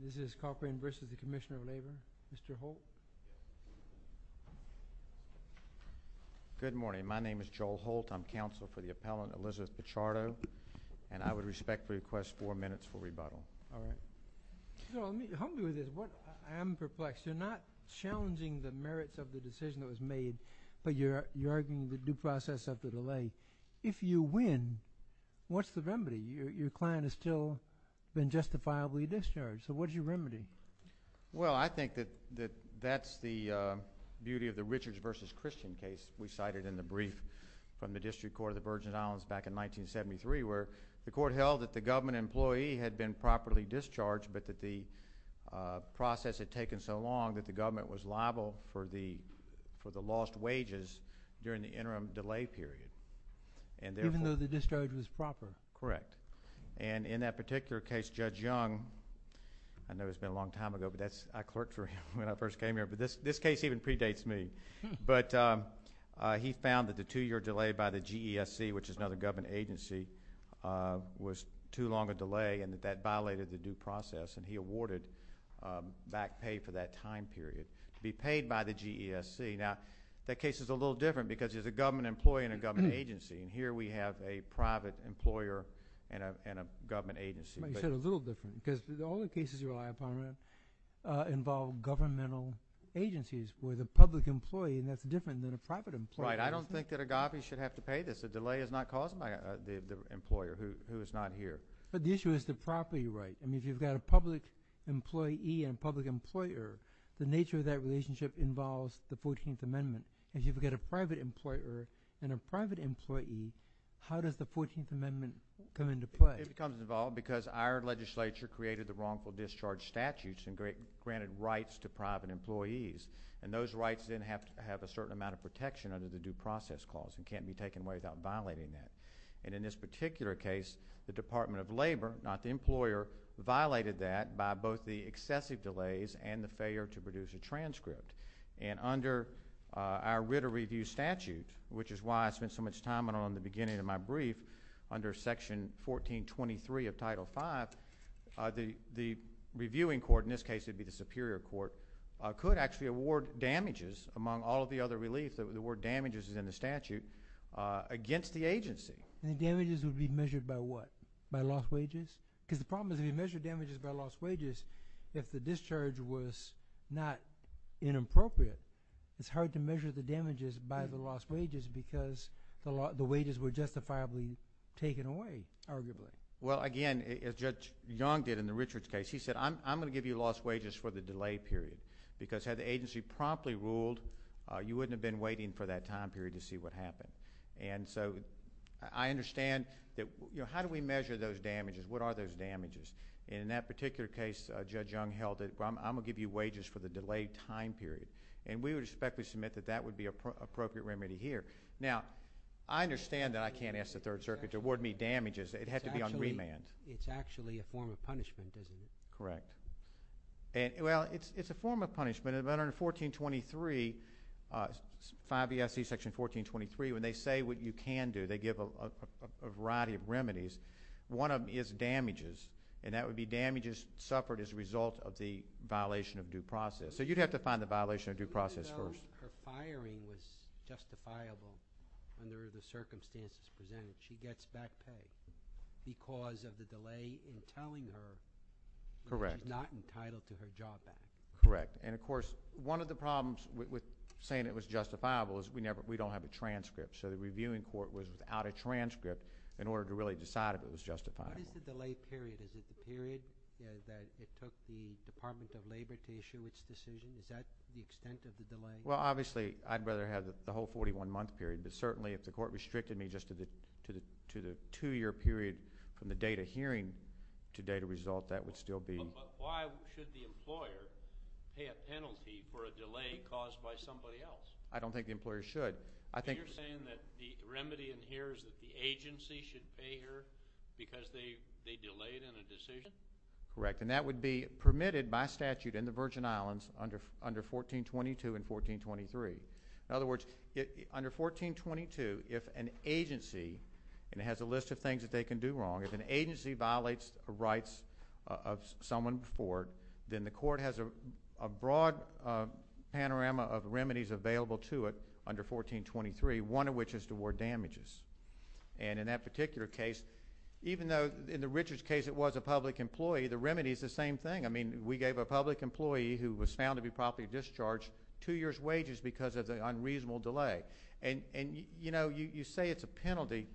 This is Corcoran v. The Commissioner of Labor. Mr. Holt? Good morning. My name is Joel Holt. I'm counsel for the appellant, Elizabeth Pichardo, and I would respectfully request four minutes for rebuttal. All right. So help me with this. I am perplexed. You're not challenging the merits of the decision that was made, but you're arguing the due process of the delay. If you win, what's the remedy? Well, I think that that's the beauty of the Richards v. Christian case we cited in the brief from the District Court of the Virgin Islands back in 1973, where the court held that the government employee had been properly discharged, but that the process had taken so long that the government was liable for the lost wages during the interim delay period. And therefore— Even though the discharge was proper? Correct. And in that particular case, Judge Young—I know it's been a long time ago, but I clerked for him when I first came here, but this case even predates me—but he found that the two-year delay by the GESC, which is another government agency, was too long a delay and that that violated the due process, and he awarded back pay for that time period to be paid by the GESC. Now, that case is a little different because there's a government employee and a government agency, and here we have a private employer and a government agency. Well, you said a little different, because all the cases you rely upon involve governmental agencies where the public employee—and that's different than a private employer. Right. I don't think that agape should have to pay this. The delay is not caused by the employer who is not here. But the issue is the property right. I mean, if you've got a public employee and a public employer, the nature of that relationship involves the 14th Amendment. If you've got a private employer and a private employee, how does the 14th Amendment come into play? It becomes involved because our legislature created the wrongful discharge statutes and granted rights to private employees, and those rights then have to have a certain amount of protection under the due process clause. It can't be taken away without violating that. And in this particular case, the Department of Labor—not the employer—violated that by both the excessive delays and the failure to produce a transcript. And under our writ of review statute, which is why I spent so much time on it in the beginning of my brief, under Section 1423 of Title V, the reviewing court—in this case, it would be the Superior Court—could actually award damages, among all of the other reliefs, the word damages is in the statute, against the agency. And the damages would be measured by what? By lost wages? Because the problem is if you measure damages by lost wages, if the discharge was not inappropriate, it's hard to measure the damages by the lost wages because the wages were justifiably taken away, arguably. Well, again, as Judge Young did in the Richards case, he said, I'm going to give you lost wages for the delay period, because had the agency promptly ruled, you wouldn't have been waiting for that time period to see what happened. And so I understand that—how do we measure those damages? What are those damages? And in that particular case, Judge Young held it, I'm going to give you wages for the delayed time period. And we would respectfully submit that that would be an appropriate remedy here. Now, I understand that I can't ask the Third Circuit to award me damages. It'd have to be on remand. It's actually a form of punishment, isn't it? Correct. Well, it's a form of punishment. And under Section 1423, when they say what you can do, they give a variety of remedies. One of them is damages, and that would be damages suffered as a result of the violation of due process. So you'd have to find the But if the hiring was justifiable under the circumstances presented, she gets back paid because of the delay in telling her, but she's not entitled to her job back. Correct. And of course, one of the problems with saying it was justifiable is we don't have a transcript. So the reviewing court was without a transcript in order to really decide if it was justifiable. What is the delay period? Is it the period that it took the Department of Labor to issue its decision? Is that the extent of the delay? Well, obviously, I'd rather have the whole 41-month period. But certainly, if the court restricted me just to the two-year period from the date of hearing to date of result, that would still be But why should the employer pay a penalty for a delay caused by somebody else? I don't think the employer should. I think So you're saying that the remedy in here is that the agency should pay her because they delayed in a decision? Correct. And that would be permitted by statute in the Virgin Islands under 1422 and 1423. In other words, under 1422, if an agency—and it has a list of things that they can do wrong—if an agency violates the rights of someone before, then the court has a broad panorama of remedies available to it under 1423, one of which is to award damages. And in that particular case, even though in the Richards case it was a public employee, the remedy is the same thing. I mean, we gave a public employee who was found to be promptly discharged two years' wages because of the unreasonable delay. And, you know, you say it's a penalty.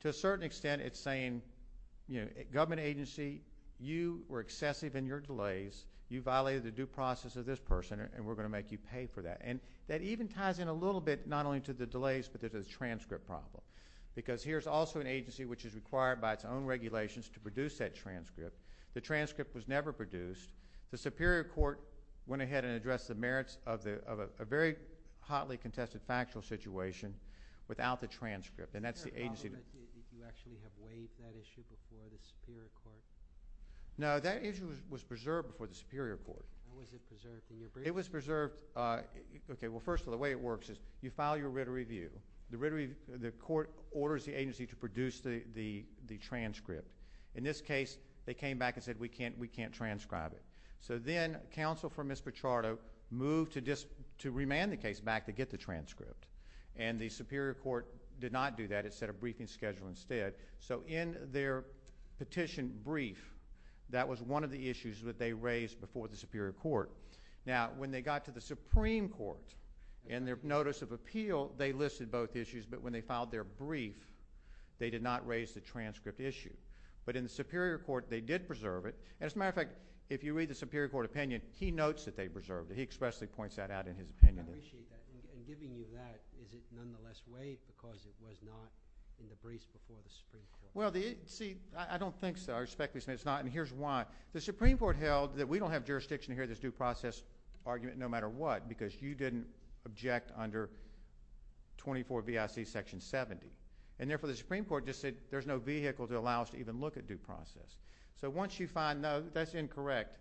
To a certain extent, it's saying, you know, government agency, you were excessive in your delays. You violated the due process of this person, and we're going to make you pay for that. And that even ties in a little bit, not only to the delays, but to the transcript problem. Because here's also an agency which is required by its own regulations to produce that transcript. The transcript was never produced. The Superior Court went ahead and addressed the merits of a very hotly contested factual situation without the transcript. And that's the agency— Is there a problem that you actually have waived that issue before the Superior Court? No, that issue was preserved before the Superior Court. How was it preserved? It was preserved—OK, well, first of all, the way it works is you file your writ of review. The court orders the agency to produce the transcript. In this case, they came back and said, we can't transcribe it. So then counsel for Ms. Pichardo moved to remand the case back to get the transcript. And the Superior Court did not do that. It set a briefing schedule instead. So in their petition brief, that was one of the issues that they raised before the Superior Court. Now, when they got to the Supreme Court in their notice of appeal, they listed both issues. But when they filed their brief, they did not raise the transcript issue. But in the Superior Court, they did preserve it. And as a matter of fact, if you read the Superior Court opinion, he notes that they preserved it. He expressly points that out in his opinion. I appreciate that. And giving you that, is it nonetheless waived because it was not in the briefs before the Supreme Court? Well, see, I don't think so. I respectfully say it's not. And here's why. The Supreme Court made a due process argument no matter what because you didn't object under 24VIC Section 70. And therefore, the Supreme Court just said there's no vehicle to allow us to even look at due process. So once you find, no, that's incorrect.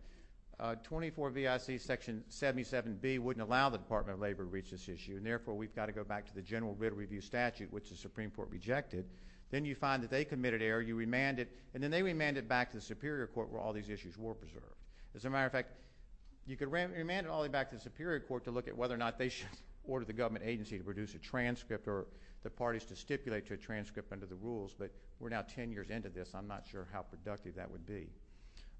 24VIC Section 77B wouldn't allow the Department of Labor to reach this issue. And therefore, we've got to go back to the general writ of review statute, which the Supreme Court rejected. Then you find that they committed error. You remanded. And then they remanded back to the Superior Court where all these issues were preserved. As a matter of fact, you could remand it all the way back to the Superior Court to look at whether or not they should order the government agency to produce a transcript or the parties to stipulate to a transcript under the rules. But we're now 10 years into this. I'm not sure how productive that would be.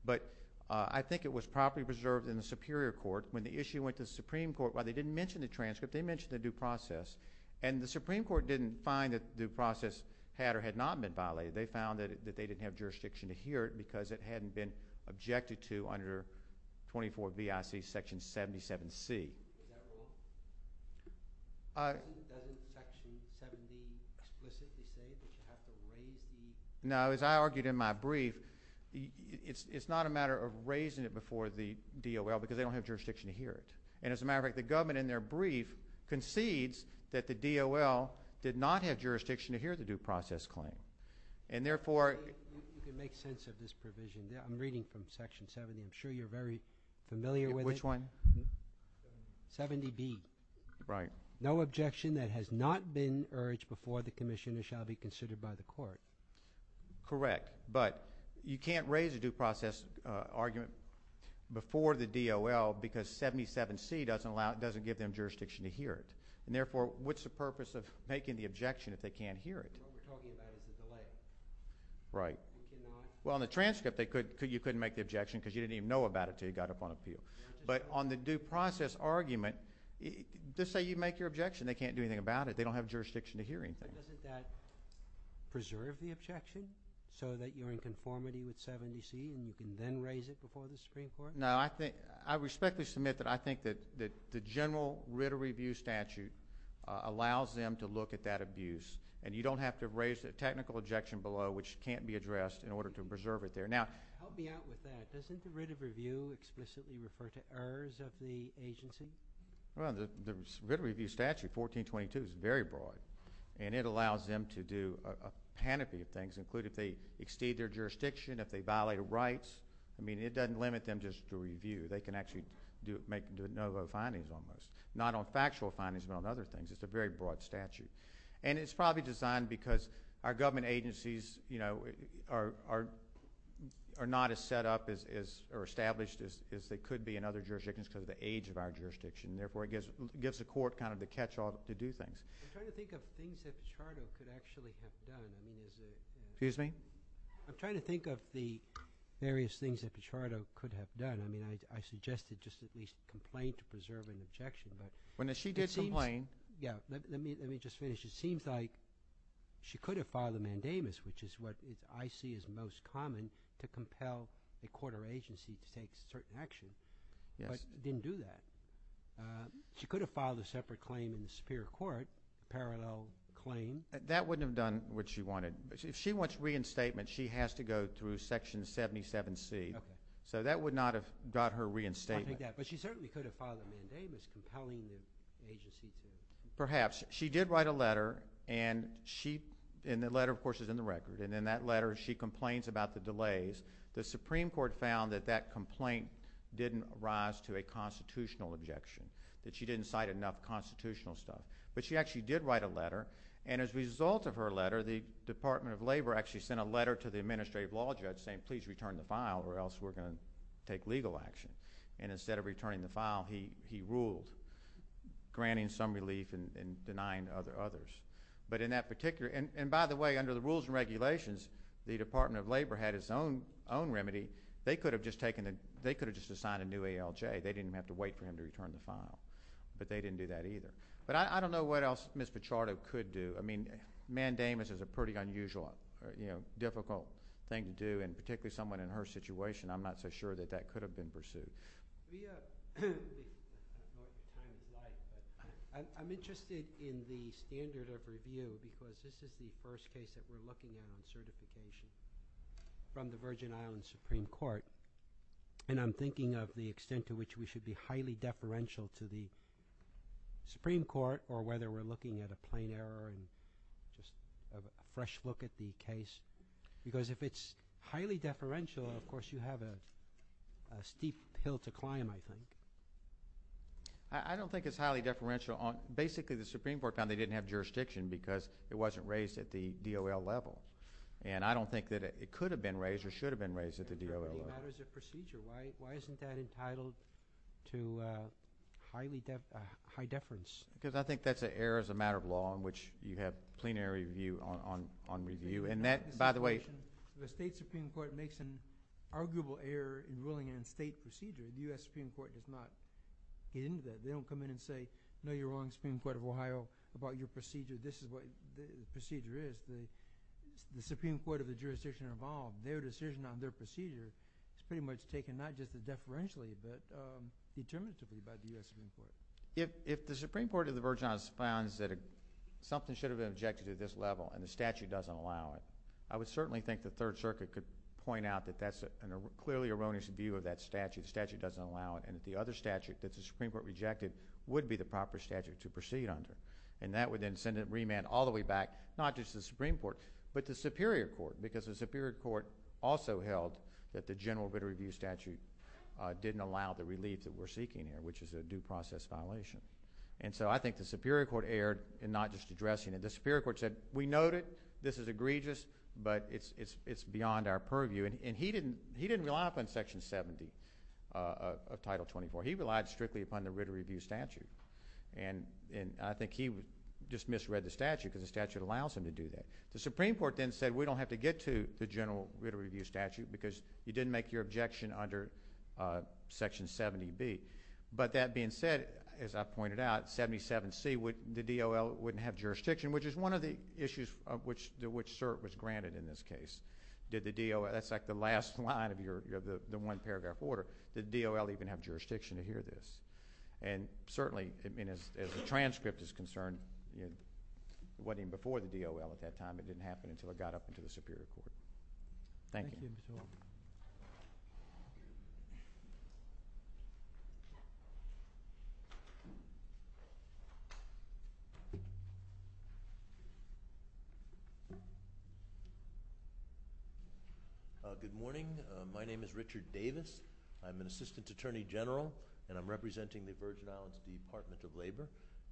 But I think it was properly preserved in the Superior Court. When the issue went to the Supreme Court, while they didn't mention the transcript, they mentioned the due process. And the Supreme Court didn't find that the due process had or had not been violated. They found that they didn't have jurisdiction to hear it because it hadn't been objected to under 24VIC Section 77C. Is that wrong? Doesn't Section 77B explicitly say that you have to raise the… No, as I argued in my brief, it's not a matter of raising it before the DOL because they don't have jurisdiction to hear it. And as a matter of fact, the government in their brief concedes that the DOL did not have jurisdiction to hear the due process claim. And therefore… You can make sense of this provision. I'm reading from Section 70. I'm sure you're very familiar with it. Which one? 70B. Right. No objection that has not been urged before the Commissioner shall be considered by the court. Correct. But you can't raise a due process argument before the DOL because 77C doesn't give them jurisdiction to hear it. And therefore, what's the purpose of making the objection if they can't hear it? What we're talking about is a delay. Right. You cannot… Well, in the transcript, you couldn't make the objection because you didn't even know about it until you got up on appeal. But on the due process argument, just say you make your objection, they can't do anything about it. They don't have jurisdiction to hear anything. Doesn't that preserve the objection so that you're in conformity with 70C and you can then raise it before the Supreme Court? No, I respectfully submit that I think that the general writ of review statute allows them to look at that abuse. And you don't have to raise a technical objection below which can't be addressed in order to preserve it there. Now… Help me out with that. Doesn't the writ of review explicitly refer to errors of the agency? Well, the writ of review statute, 1422, is very broad. And it allows them to do a panoply of things, including if they exceed their jurisdiction, if they violate a right. I mean, it doesn't limit them just to review. They can actually make no findings on those. Not on factual findings, but on other things. It's a very broad statute. And it's probably designed because our government agencies, you know, are not as set up or established as they could be in other jurisdictions because of the age of our jurisdiction. Therefore, it gives the court kind of the catch-all to do things. I'm trying to think of things that Pichardo could actually have done. Excuse me? I'm trying to think of the various things that Pichardo could have done. I mean, I suggested just at least complain to preserve an objection, but… Well, now, she did complain. Yeah. Let me just finish. It seems like she could have filed a mandamus, which is what I see as most common, to compel a court or agency to take certain action. Yes. But it didn't do that. She could have filed a separate claim in the Superior Court, a parallel claim. That wouldn't have done what she wanted. If she wants reinstatement, she has to go through Section 77C. Okay. So that would not have got her reinstatement. I think that. But she certainly could have filed a mandamus compelling the agency to… Perhaps. She did write a letter, and the letter, of course, is in the record. And in that letter, she complains about the delays. The Supreme Court found that that complaint didn't rise to a constitutional objection, that she didn't cite enough constitutional stuff. But she actually did write a letter, and as a result of her letter, the Department of Labor actually sent a letter to the administrative law judge saying, please return the file, or else we're going to take legal action. And instead of returning the file, he ruled, granting some relief and denying others. But in that particular—and by the way, under the rules and regulations, the Department of Labor had its own remedy. They could have just taken the—they could have just assigned a new ALJ. They didn't have to wait for him to return the file. But they didn't do that either. But I don't know what else Ms. Pichardo could do. I mean, mandamus is a pretty unusual, you know, difficult thing to do. And particularly someone in her situation, I'm not so sure that that could have been pursued. I'm interested in the standard of review because this is the first case that we're looking at on certification from the Virgin Islands Supreme Court. And I'm thinking of the extent to which we should be highly deferential to the Supreme Court or whether we're looking at a plain error and just a fresh look at the case. Because if it's highly deferential, of course, you have a steep hill to climb, I think. I don't think it's highly deferential. Basically, the Supreme Court found they didn't have jurisdiction because it wasn't raised at the DOL level. And I don't think that it could have been raised or should have been raised at the DOL level. Why isn't that entitled to high deference? Because I think that's an error as a matter of law in which you have plain error review on review. And that, by the way— The state Supreme Court makes an arguable error in ruling it in state procedure. The U.S. Supreme Court does not get into that. They don't come in and say, no, you're wrong, Supreme Court of Ohio, about your procedure. This is what the procedure is. The Supreme Court is pretty much taken not just as deferentially but determinatively by the U.S. Supreme Court. If the Supreme Court of the Virgin Islands found that something should have been rejected at this level and the statute doesn't allow it, I would certainly think the Third Circuit could point out that that's a clearly erroneous view of that statute. The statute doesn't allow it. And if the other statute that the Supreme Court rejected would be the proper statute to proceed under. And that would then send it—remand all the way back, not just the Supreme Court, but the Superior Court. Because the Superior Court also held that the general writ of review statute didn't allow the relief that we're seeking here, which is a due process violation. And so I think the Superior Court erred in not just addressing it. The Superior Court said, we note it, this is egregious, but it's beyond our purview. And he didn't rely upon Section 70 of Title 24. He relied strictly upon the writ of review statute. And I think he just misread the statute because the statute allows him to do that. The Supreme Court then said, we don't have to get to the general writ of review statute because you didn't make your objection under Section 70B. But that being said, as I pointed out, 77C, the DOL wouldn't have jurisdiction, which is one of the issues of which CERT was granted in this case. Did the DOL—that's like the last line of the one-paragraph order. Did the DOL even have jurisdiction to hear this? And certainly, I mean, as the transcript is concerned, it wasn't even before the DOL at that time. It didn't happen until it got up into the Superior Court. Thank you. Good morning. My name is Richard Davis. I'm an Assistant Attorney General, and I'm representing the Virgin Islands Department of Labor.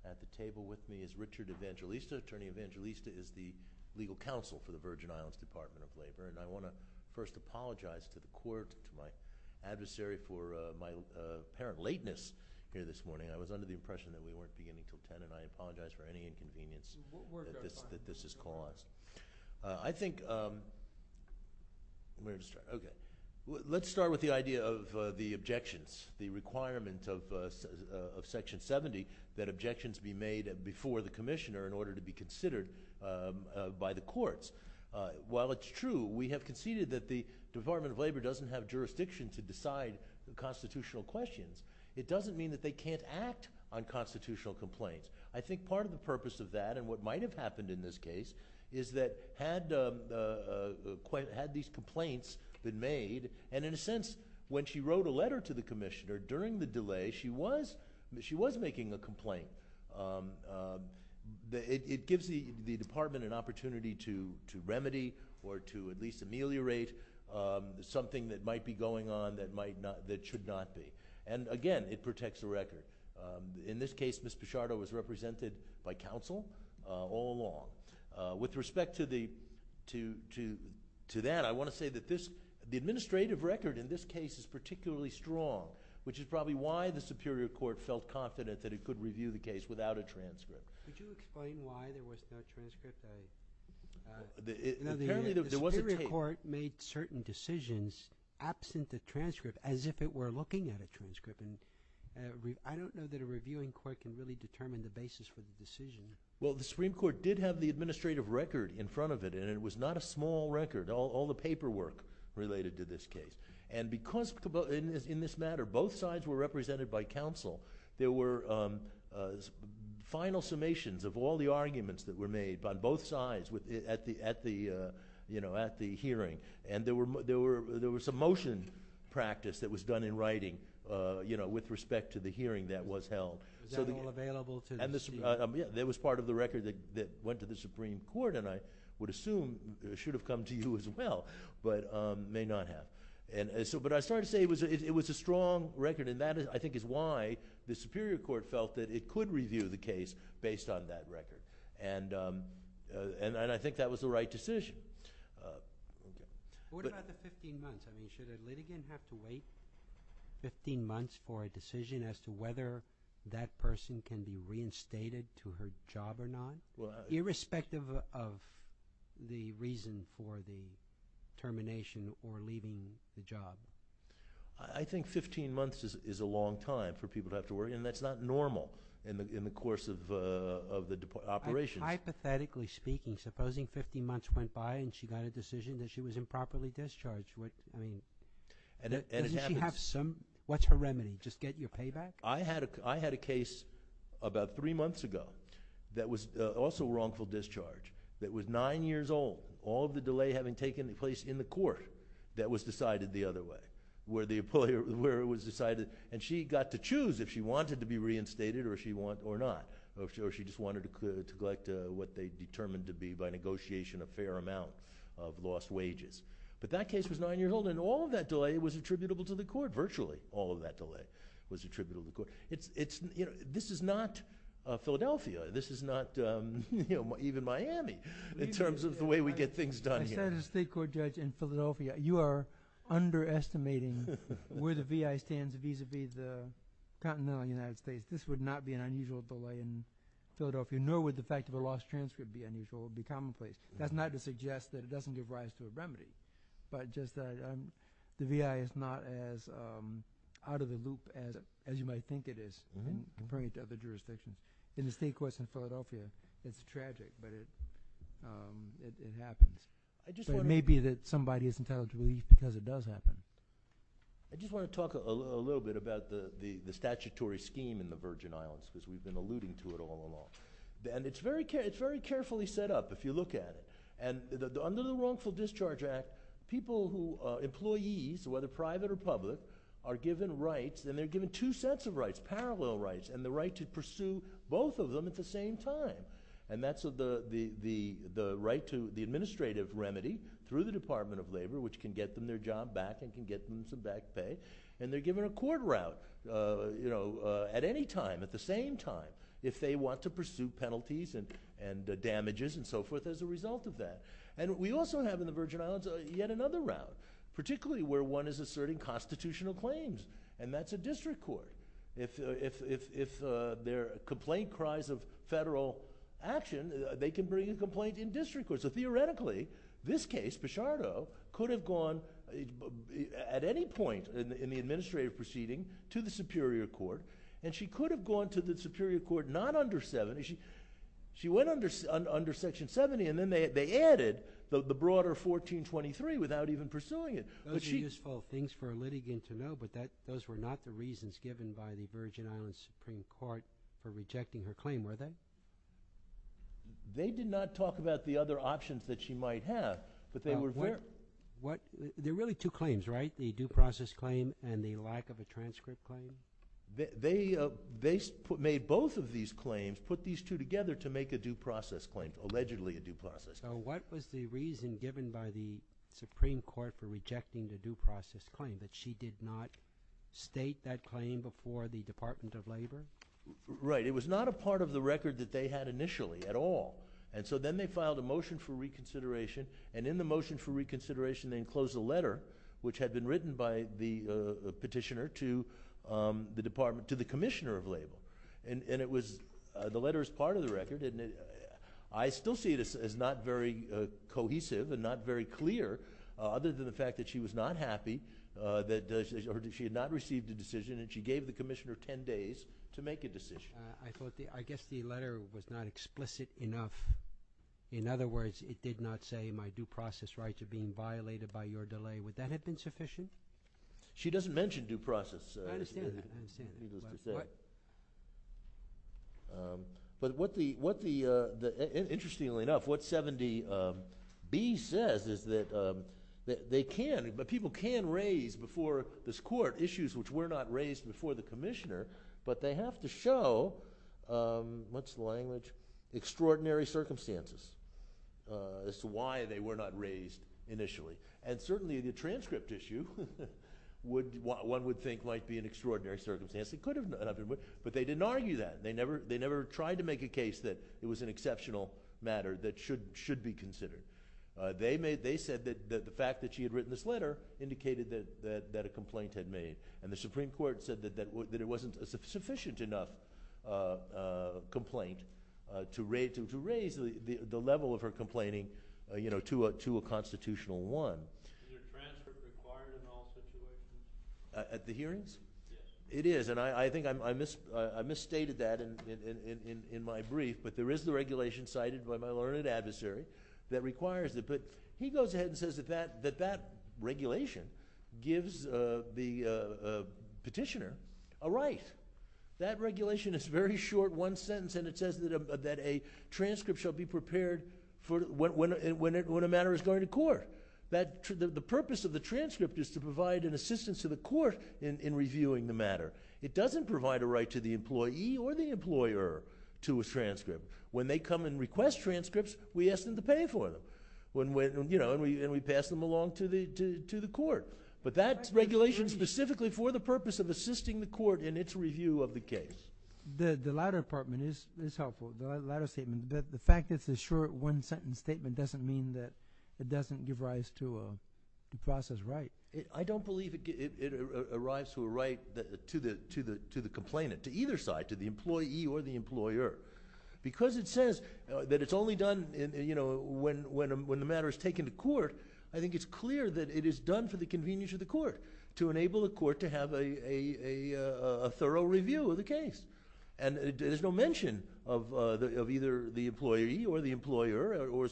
At the table with me is Richard Evangelista. Attorney Evangelista is the legal counsel for the Virgin Islands Department of Labor, and I want to first apologize to the Court, to my adversary for my apparent lateness here this morning. I was under the impression that we weren't beginning until 10, and I apologize for any inconvenience that this has caused. What work are we talking about? Let's start with the idea of the objections, the requirement of Section 70 that objections be made before the Commissioner in order to be considered by the courts. While it's true, we have conceded that the Department of Labor doesn't have jurisdiction to decide constitutional questions, it doesn't mean that they can't act on constitutional complaints. I think part of the purpose of that, and what might have happened in this case, is that had these complaints been made, and in a sense, when she wrote a letter to the Commissioner during the delay, she was making a complaint. It gives the Department an opportunity to at least ameliorate something that might be going on that should not be. Again, it protects the record. In this case, Ms. Pichardo was represented by counsel all along. With respect to that, I want to say that the administrative record in this case is particularly strong, which is probably why the Superior Court felt confident that it could review the case without a transcript. Could you explain why there was no transcript? The Superior Court made certain decisions absent the transcript, as if it were looking at a transcript. I don't know that a reviewing court can really determine the basis for the decision. The Supreme Court did have the administrative record in front of it, and it was not a small record, all the paperwork related to this case. Because, in this matter, both sides were represented by counsel, there were final summations of all the arguments that were made by both sides at the hearing, and there was a motion practice that was done in writing with respect to the hearing that was held. Was that all available to the Supreme Court? Yes, that was part of the record that went to the Supreme Court, and I would assume it should have come to you as well, but it may not have. I started to say it was a strong record, and that, I think, is why the Superior Court felt that it could review the case based on that record, and I think that was the right decision. What about the 15 months? Should a litigant have to wait 15 months for a decision as to whether that person can be reinstated to her job or not, irrespective of the reason for the termination or leaving the job? I think 15 months is a long time for people to have to wait, and that's not normal in the course of the operations. Hypothetically speaking, supposing 15 months went by and she got a decision that she was improperly discharged, what... I mean, doesn't she have some... what's her remedy? Just get your payback? I had a case about three months ago that was also wrongful discharge, that was nine years old, all of the delay having taken place in the court, that was decided the other way, where it was decided... and she got to choose if she wanted to be reinstated or not, or if she just wanted to neglect what they determined to be by negotiation a fair amount of lost wages. But that case was nine years old, and all of that delay was attributable to the court, virtually all of that delay was attributable to the court. This is not Philadelphia, this is not even Miami, in terms of the way we get things done here. I said as a state court judge in Philadelphia, you are underestimating where the V.I. stands vis-à-vis the continental United States. This would not be an unusual delay in Philadelphia, nor would the fact of a lost transcript be unusual, it would be commonplace. That's not to suggest that it doesn't give rise to a remedy, but just that the V.I. is not as out of the loop as you might think it is, comparing it to other jurisdictions. In the state courts in Philadelphia, it's tragic, but it happens. It may be that somebody is entitled to relief because it does happen. I just want to talk a little bit about the statutory scheme in the Virgin Islands, because we've been alluding to it all along. It's very carefully set up, if you look at it. Under the Wrongful Discharge Act, people who are employees, whether private or public, are given rights, and they're given two sets of rights, parallel rights, and the right to pursue both of them at the same time. That's the right to the administrative remedy through the Department of Labor, which can get them their job back and can get them some back pay. They're given a court route at any time, at the same time, if they want to pursue penalties and damages and so forth as a result of that. We also have in the Virgin Islands yet another route, particularly where one is asserting constitutional claims, and that's a district court. If their complaint cries of federal action, they can bring a complaint in district court. Theoretically, this case, Pichardo, could have gone at any point in the administrative proceeding to the superior court, and she could have gone to the superior court not under 70. She went under Section 70, and then they added the broader 1423 without even pursuing it. Those are useful things for a litigant to know, but those were not the reasons given by the Virgin Islands Supreme Court for rejecting her claim, were they? They did not talk about the other options that she might have, but they were clear. There are really two claims, right? The due process claim and the lack of a transcript claim? They made both of these claims, put these two together to make a due process claim, allegedly a due process claim. So what was the reason given by the Supreme Court for rejecting the due process claim, that she did not state that claim before the Department of Labor? Right. It was not a part of the record that they had initially at all, and so then they filed a motion for reconsideration, and in the motion for reconsideration, they enclosed a letter which had been written by the petitioner to the Commissioner of Labor. The letter is part of the record, and I still see it as not very cohesive and not very clear, other than the fact that she was not happy that she had not received a decision, and she gave the Commissioner 10 days to make a decision. I guess the letter was not explicit enough. In other words, it did not say my due process rights are being violated by your delay. Would that have been sufficient? She doesn't mention due process. I understand that. But what the, interestingly enough, what 70B says is that they can, but people can raise before this court issues which were not raised before the Commissioner, but they have to show, what's the language, extraordinary circumstances as to why they were not raised initially, and certainly the transcript issue one would think might be an extraordinary circumstance. It could have been, but they didn't argue that. They never tried to make a case that it was an exceptional matter that should be considered. They said that the fact that she had written this letter indicated that a complaint had been made, and the Supreme Court said that it wasn't a sufficient enough complaint to raise the level of her complaining to a constitutional one. Is her transcript required in all situations? At the hearings? Yes. It is, and I think I misstated that in my brief, but there is the regulation cited by my learned adversary that requires it. But he goes ahead and says that that regulation gives the petitioner a right. That regulation is very short, one sentence, and it says that a transcript shall be prepared when a matter is going to court. The purpose of the transcript is to provide an assistance to the court in reviewing the matter. It doesn't provide a right to the employee or the employer to a transcript. When they come and request transcripts, we ask them to pay for them, and we pass them along to the court. But that regulation is specifically for the purpose of assisting the court in its review of the case. The latter statement is helpful. The latter statement, the fact that it's a short one-sentence statement doesn't mean that it doesn't give rise to a process right. I don't believe it arrives to a right to the complainant, to either side, to the employee or the employer. Because it says that it's only done when the matter is taken to court, I think it's clear that it is done for the convenience of the court to enable the court to have a thorough review of the case. And there's no mention of either the employee or the employer or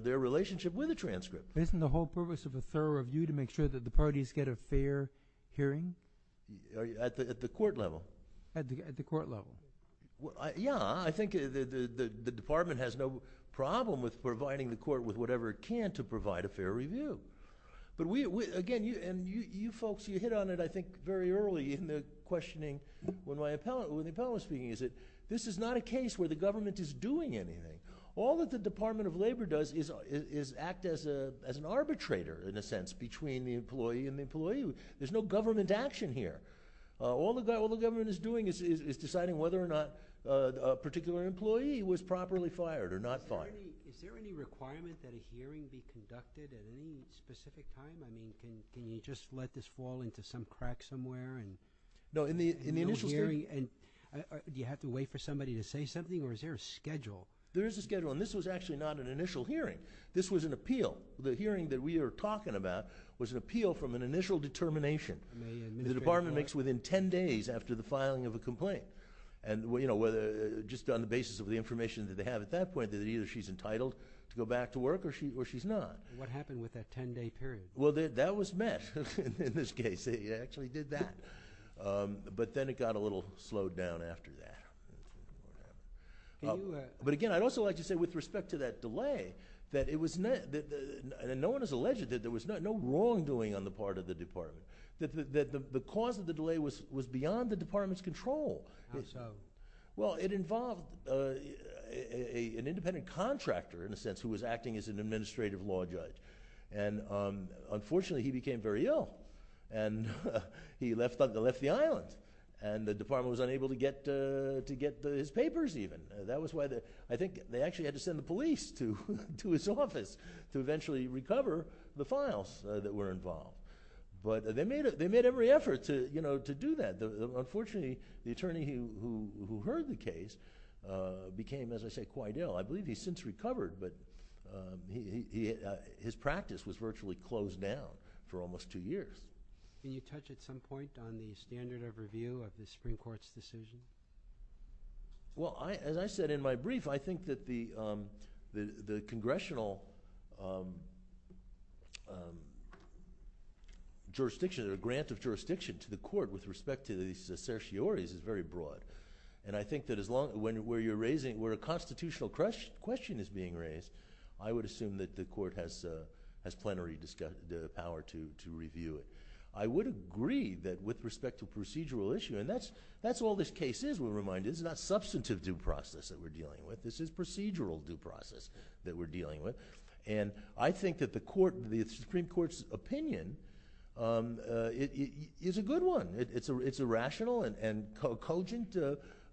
their relationship with the transcript. Isn't the whole purpose of a thorough review to make sure that the parties get a fair hearing? At the court level. At the court level. Yeah, I think the department has no problem with providing the court with whatever it can to provide a fair review. Again, you folks, you hit on it I think very early in the questioning when the appellant was speaking, is that this is not a case where the government is doing anything. All that the Department of Labor does is act as an arbitrator, in a sense, between the employee and the employee. There's no government action here. All the government is doing is deciding whether or not a particular employee was properly fired or not fired. Is there any requirement that a hearing be conducted at any specific time? I mean, can you just let this fall into some crack somewhere? No, in the initial hearing... Do you have to wait for somebody to say something, or is there a schedule? There is a schedule, and this was actually not an initial hearing. This was an appeal. The hearing that we are talking about was an appeal from an initial determination that the department makes within 10 days after the filing of a complaint. And just on the basis of the information that they have at that point, either she's entitled to go back to work, or she's not. What happened with that 10-day period? Well, that was met in this case. They actually did that. But then it got a little slowed down after that. But again, I'd also like to say, with respect to that delay, that no one has alleged that there was no wrongdoing on the part of the department. The cause of the delay was beyond the department's control. How so? Well, it involved an independent contractor, in a sense, who was acting as an administrative law judge. And unfortunately, he became very ill, and he left the island. And the department was unable to get his papers, even. That was why I think they actually had to send the police to his office to eventually recover the files that were involved. But they made every effort to do that. Unfortunately, the attorney who heard the case became, as I say, quite ill. I believe he's since recovered, but his practice was virtually closed down for almost two years. Can you touch at some point on the standard of review of the Supreme Court's decision? Well, as I said in my brief, I think that the congressional jurisdiction, or grant of jurisdiction to the court with respect to these certioraries is very broad. And I think that where a constitutional question is being raised, I would assume that the court has plenary power to review it. I would agree that with respect to procedural issue, and that's all this case is, we're reminded. It's not substantive due process that we're dealing with. This is procedural due process that we're dealing with. And I think that the Supreme Court's opinion is a good one. It's a rational and cogent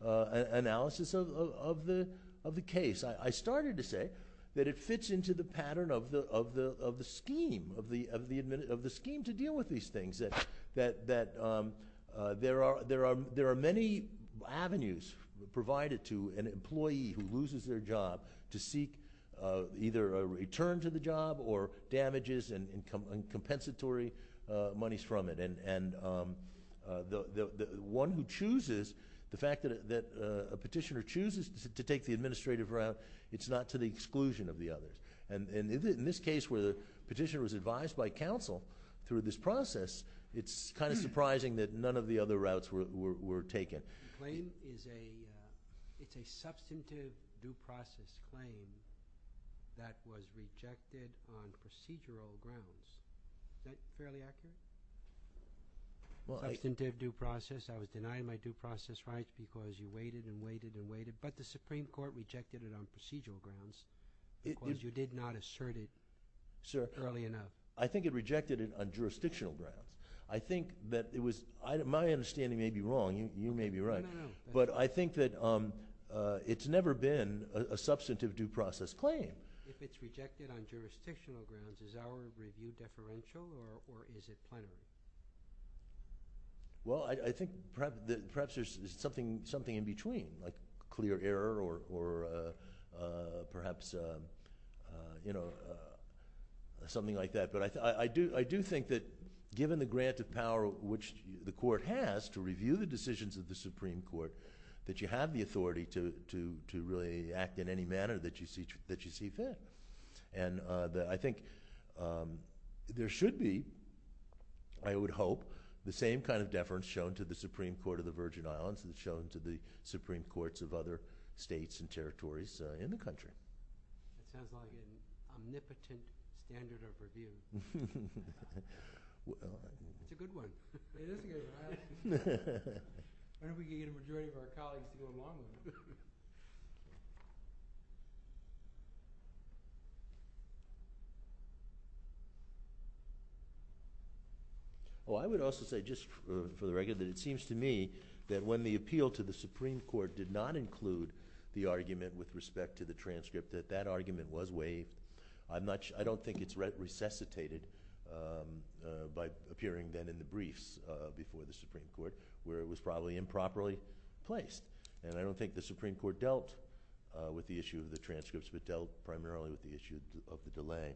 analysis of the case. I started to say that it fits into the pattern of the scheme, of the scheme to deal with these things, that there are many avenues provided to an employee who loses their job to seek either a return to the job or damages and compensatory monies from it. And the one who chooses, the fact that a petitioner chooses to take the administrative route, it's not to the exclusion of the others. And in this case where the petitioner was advised by counsel through this process, it's kind of surprising that none of the other routes were taken. The claim is a substantive due process claim that was rejected on procedural grounds. Is that fairly accurate? Substantive due process. I was denying my due process rights because you waited and waited and waited. But the Supreme Court rejected it on procedural grounds because you did not assert it early enough. I think it rejected it on jurisdictional grounds. My understanding may be wrong. You may be right. But I think that it's never been a substantive due process claim. If it's rejected on jurisdictional grounds, is our review deferential or is it plenary? Well, I think perhaps there's something in between, like clear error or perhaps something like that. But I do think that given the grant of power which the court has to review the decisions of the Supreme Court, that you have the authority to really act in any manner that you see fit. And I think there should be, I would hope, the same kind of deference shown to the Supreme Court of the Virgin Islands and shown to the Supreme Courts of other states and territories in the country. That sounds like an omnipotent standard of review. It's a good one. It is a good one. I don't know if we can get a majority of our colleagues to do a long one. Oh, I would also say, just for the record, that it seems to me that when the appeal to the Supreme Court did not include the argument with respect to the transcript, that that argument was waived. I don't think it's resuscitated by appearing then in the briefs before the Supreme Court where it was probably improperly placed. And I don't think the Supreme Court dealt with the issue of the transcripts, but dealt primarily with the issue of the delay.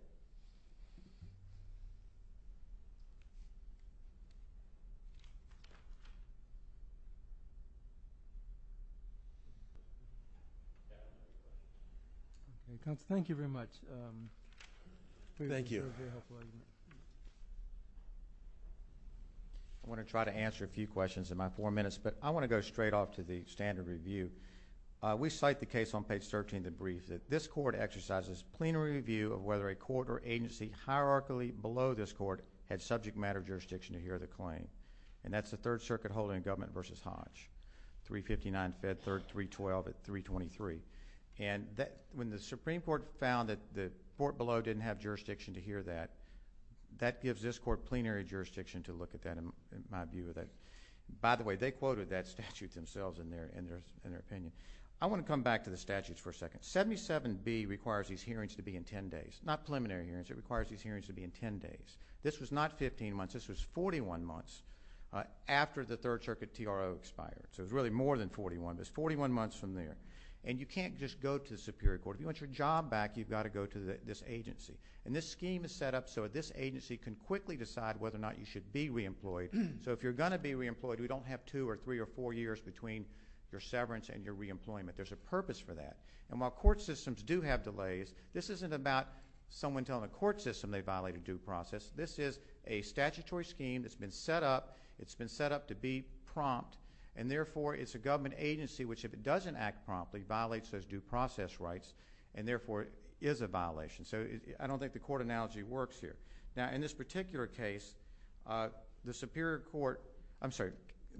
Thank you very much. Thank you. I want to try to answer a few questions in my four minutes, but I want to go straight off to the standard review. We cite the case on page 13 of the brief that this court exercises plenary review of whether a court or agency hierarchically below this court had subject matter jurisdiction to hear the claim. And that's the Third Circuit holding government versus Hodge. 359, Fed Third, 312 at 323. And when the Supreme Court found that the court below didn't have jurisdiction to hear that, that gives this court plenary jurisdiction to look at that in my view. By the way, they quoted that statute themselves in their opinion. I want to come back to the statutes for a second. 77B requires these hearings to be in 10 days, not preliminary hearings. It requires these hearings to be in 10 days. This was not 15 months. This was 41 months after the Third Circuit TRO expired. So it was really more than 41. It was 41 months from there. And you can't just go to the Superior Court. If you want your job back, you've got to go to this agency. And this scheme is set up so this agency can quickly decide whether or not you should be reemployed. So if you're going to be reemployed, we don't have two or three or four years between your severance and your reemployment. There's a purpose for that. And while court systems do have delays, this isn't about someone telling the court system they violated due process. This is a statutory scheme that's been set up. It's been set up to be prompt. And, therefore, it's a government agency which, if it doesn't act promptly, violates those due process rights. And, therefore, it is a violation. So I don't think the court analogy works here. Now, in this particular case,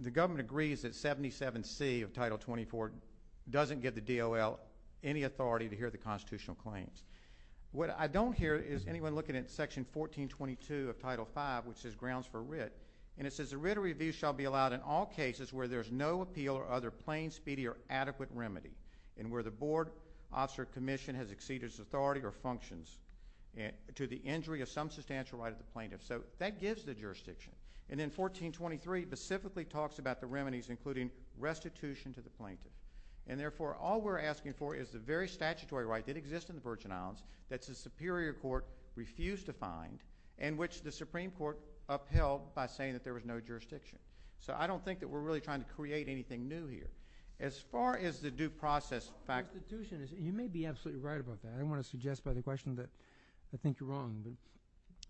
the government agrees that 77C of Title 24 doesn't give the DOL any authority to hear the constitutional claims. What I don't hear is anyone looking at Section 1422 of Title 5, which says grounds for writ. And it says the writ of review shall be allowed in all cases where there's no appeal or other plain, speedy, or adequate remedy and where the board, officer, or commission has exceeded its authority or functions to the injury of some substantial right of the plaintiff. So that gives the jurisdiction. And then 1423 specifically talks about the remedies, including restitution to the plaintiff. And, therefore, all we're asking for is the very statutory right that exists in the Virgin Islands that the Superior Court refused to find and which the Supreme Court upheld by saying that there was no jurisdiction. So I don't think that we're really trying to create anything new here. As far as the due process fact— Restitution, you may be absolutely right about that. I don't want to suggest by the question that I think you're wrong.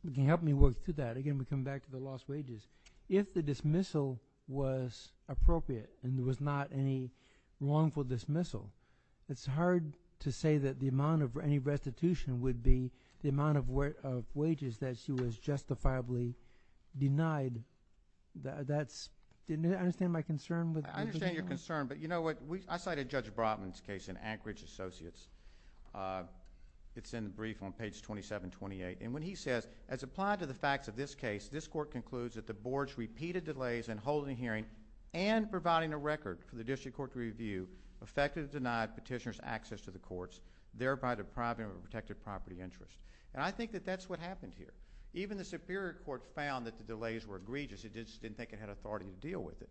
But can you help me work through that? Again, we come back to the lost wages. If the dismissal was appropriate and there was not any wrongful dismissal, it's hard to say that the amount of any restitution would be the amount of wages that she was justifiably denied. Did you understand my concern? I understand your concern, but you know what? I cited Judge Brotman's case in Anchorage Associates. It's in the brief on page 2728. And when he says, As applied to the facts of this case, this Court concludes that the Board's repeated delays in holding a hearing and providing a record for the District Court to review effectively denied petitioners access to the courts, thereby depriving them of a protected property interest. And I think that that's what happened here. Even the Superior Court found that the delays were egregious. It just didn't think it had authority to deal with it.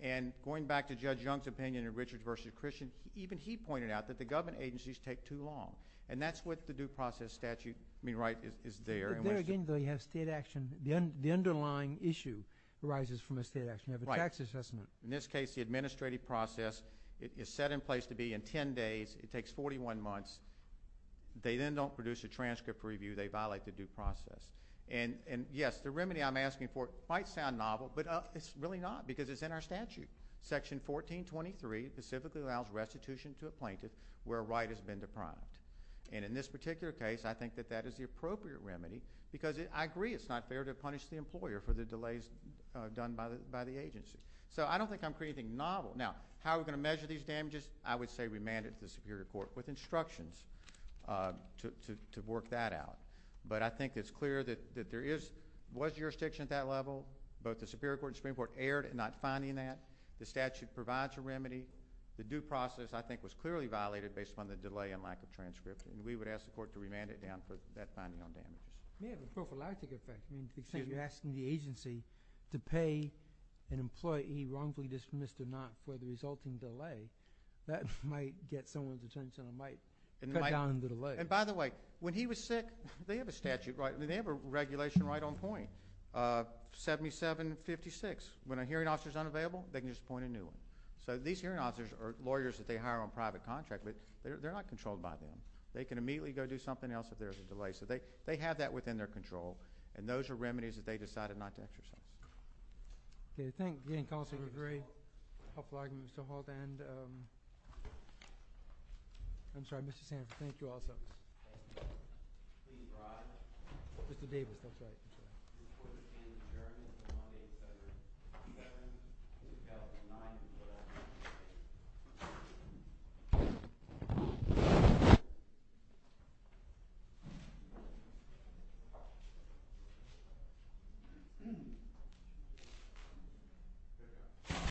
And going back to Judge Young's opinion in Richards v. Christian, even he pointed out that the government agencies take too long. And that's what the due process statute, I mean, right, is there. But there again, though, you have state action. The underlying issue arises from a state action. You have a tax assessment. In this case, the administrative process is set in place to be in 10 days. It takes 41 months. They then don't produce a transcript review. They violate the due process. And yes, the remedy I'm asking for might sound novel, but it's really not because it's in our statute. Section 1423 specifically allows restitution to a plaintiff where a right has been deprived. And in this particular case, I think that that is the appropriate remedy because I agree it's not fair to punish the employer for the delays done by the agency. So I don't think I'm creating anything novel. Now, how are we going to measure these damages? I would say remand it to the Superior Court with instructions to work that out. Both the Superior Court and Supreme Court erred in not finding that. The statute provides a remedy. The due process, I think, was clearly violated based on the delay and lack of transcripts. And we would ask the Court to remand it down for that finding on damages. Yeah, the prophylactic effect. You're asking the agency to pay an employee wrongfully dismissed or not for the resulting delay. That might get someone's attention and might cut down on the delay. 7756, when a hearing officer is unavailable, they can just appoint a new one. So these hearing officers are lawyers that they hire on private contract, but they're not controlled by them. They can immediately go do something else if there's a delay. So they have that within their control, and those are remedies that they decided not to exercise. Okay, thank you. Again, Counselor Gray. I applaud you, Mr. Holt. I'm sorry, Mr. Sands. Thank you also. Please rise. Mr. Davis, that's right. The Court is adjourned.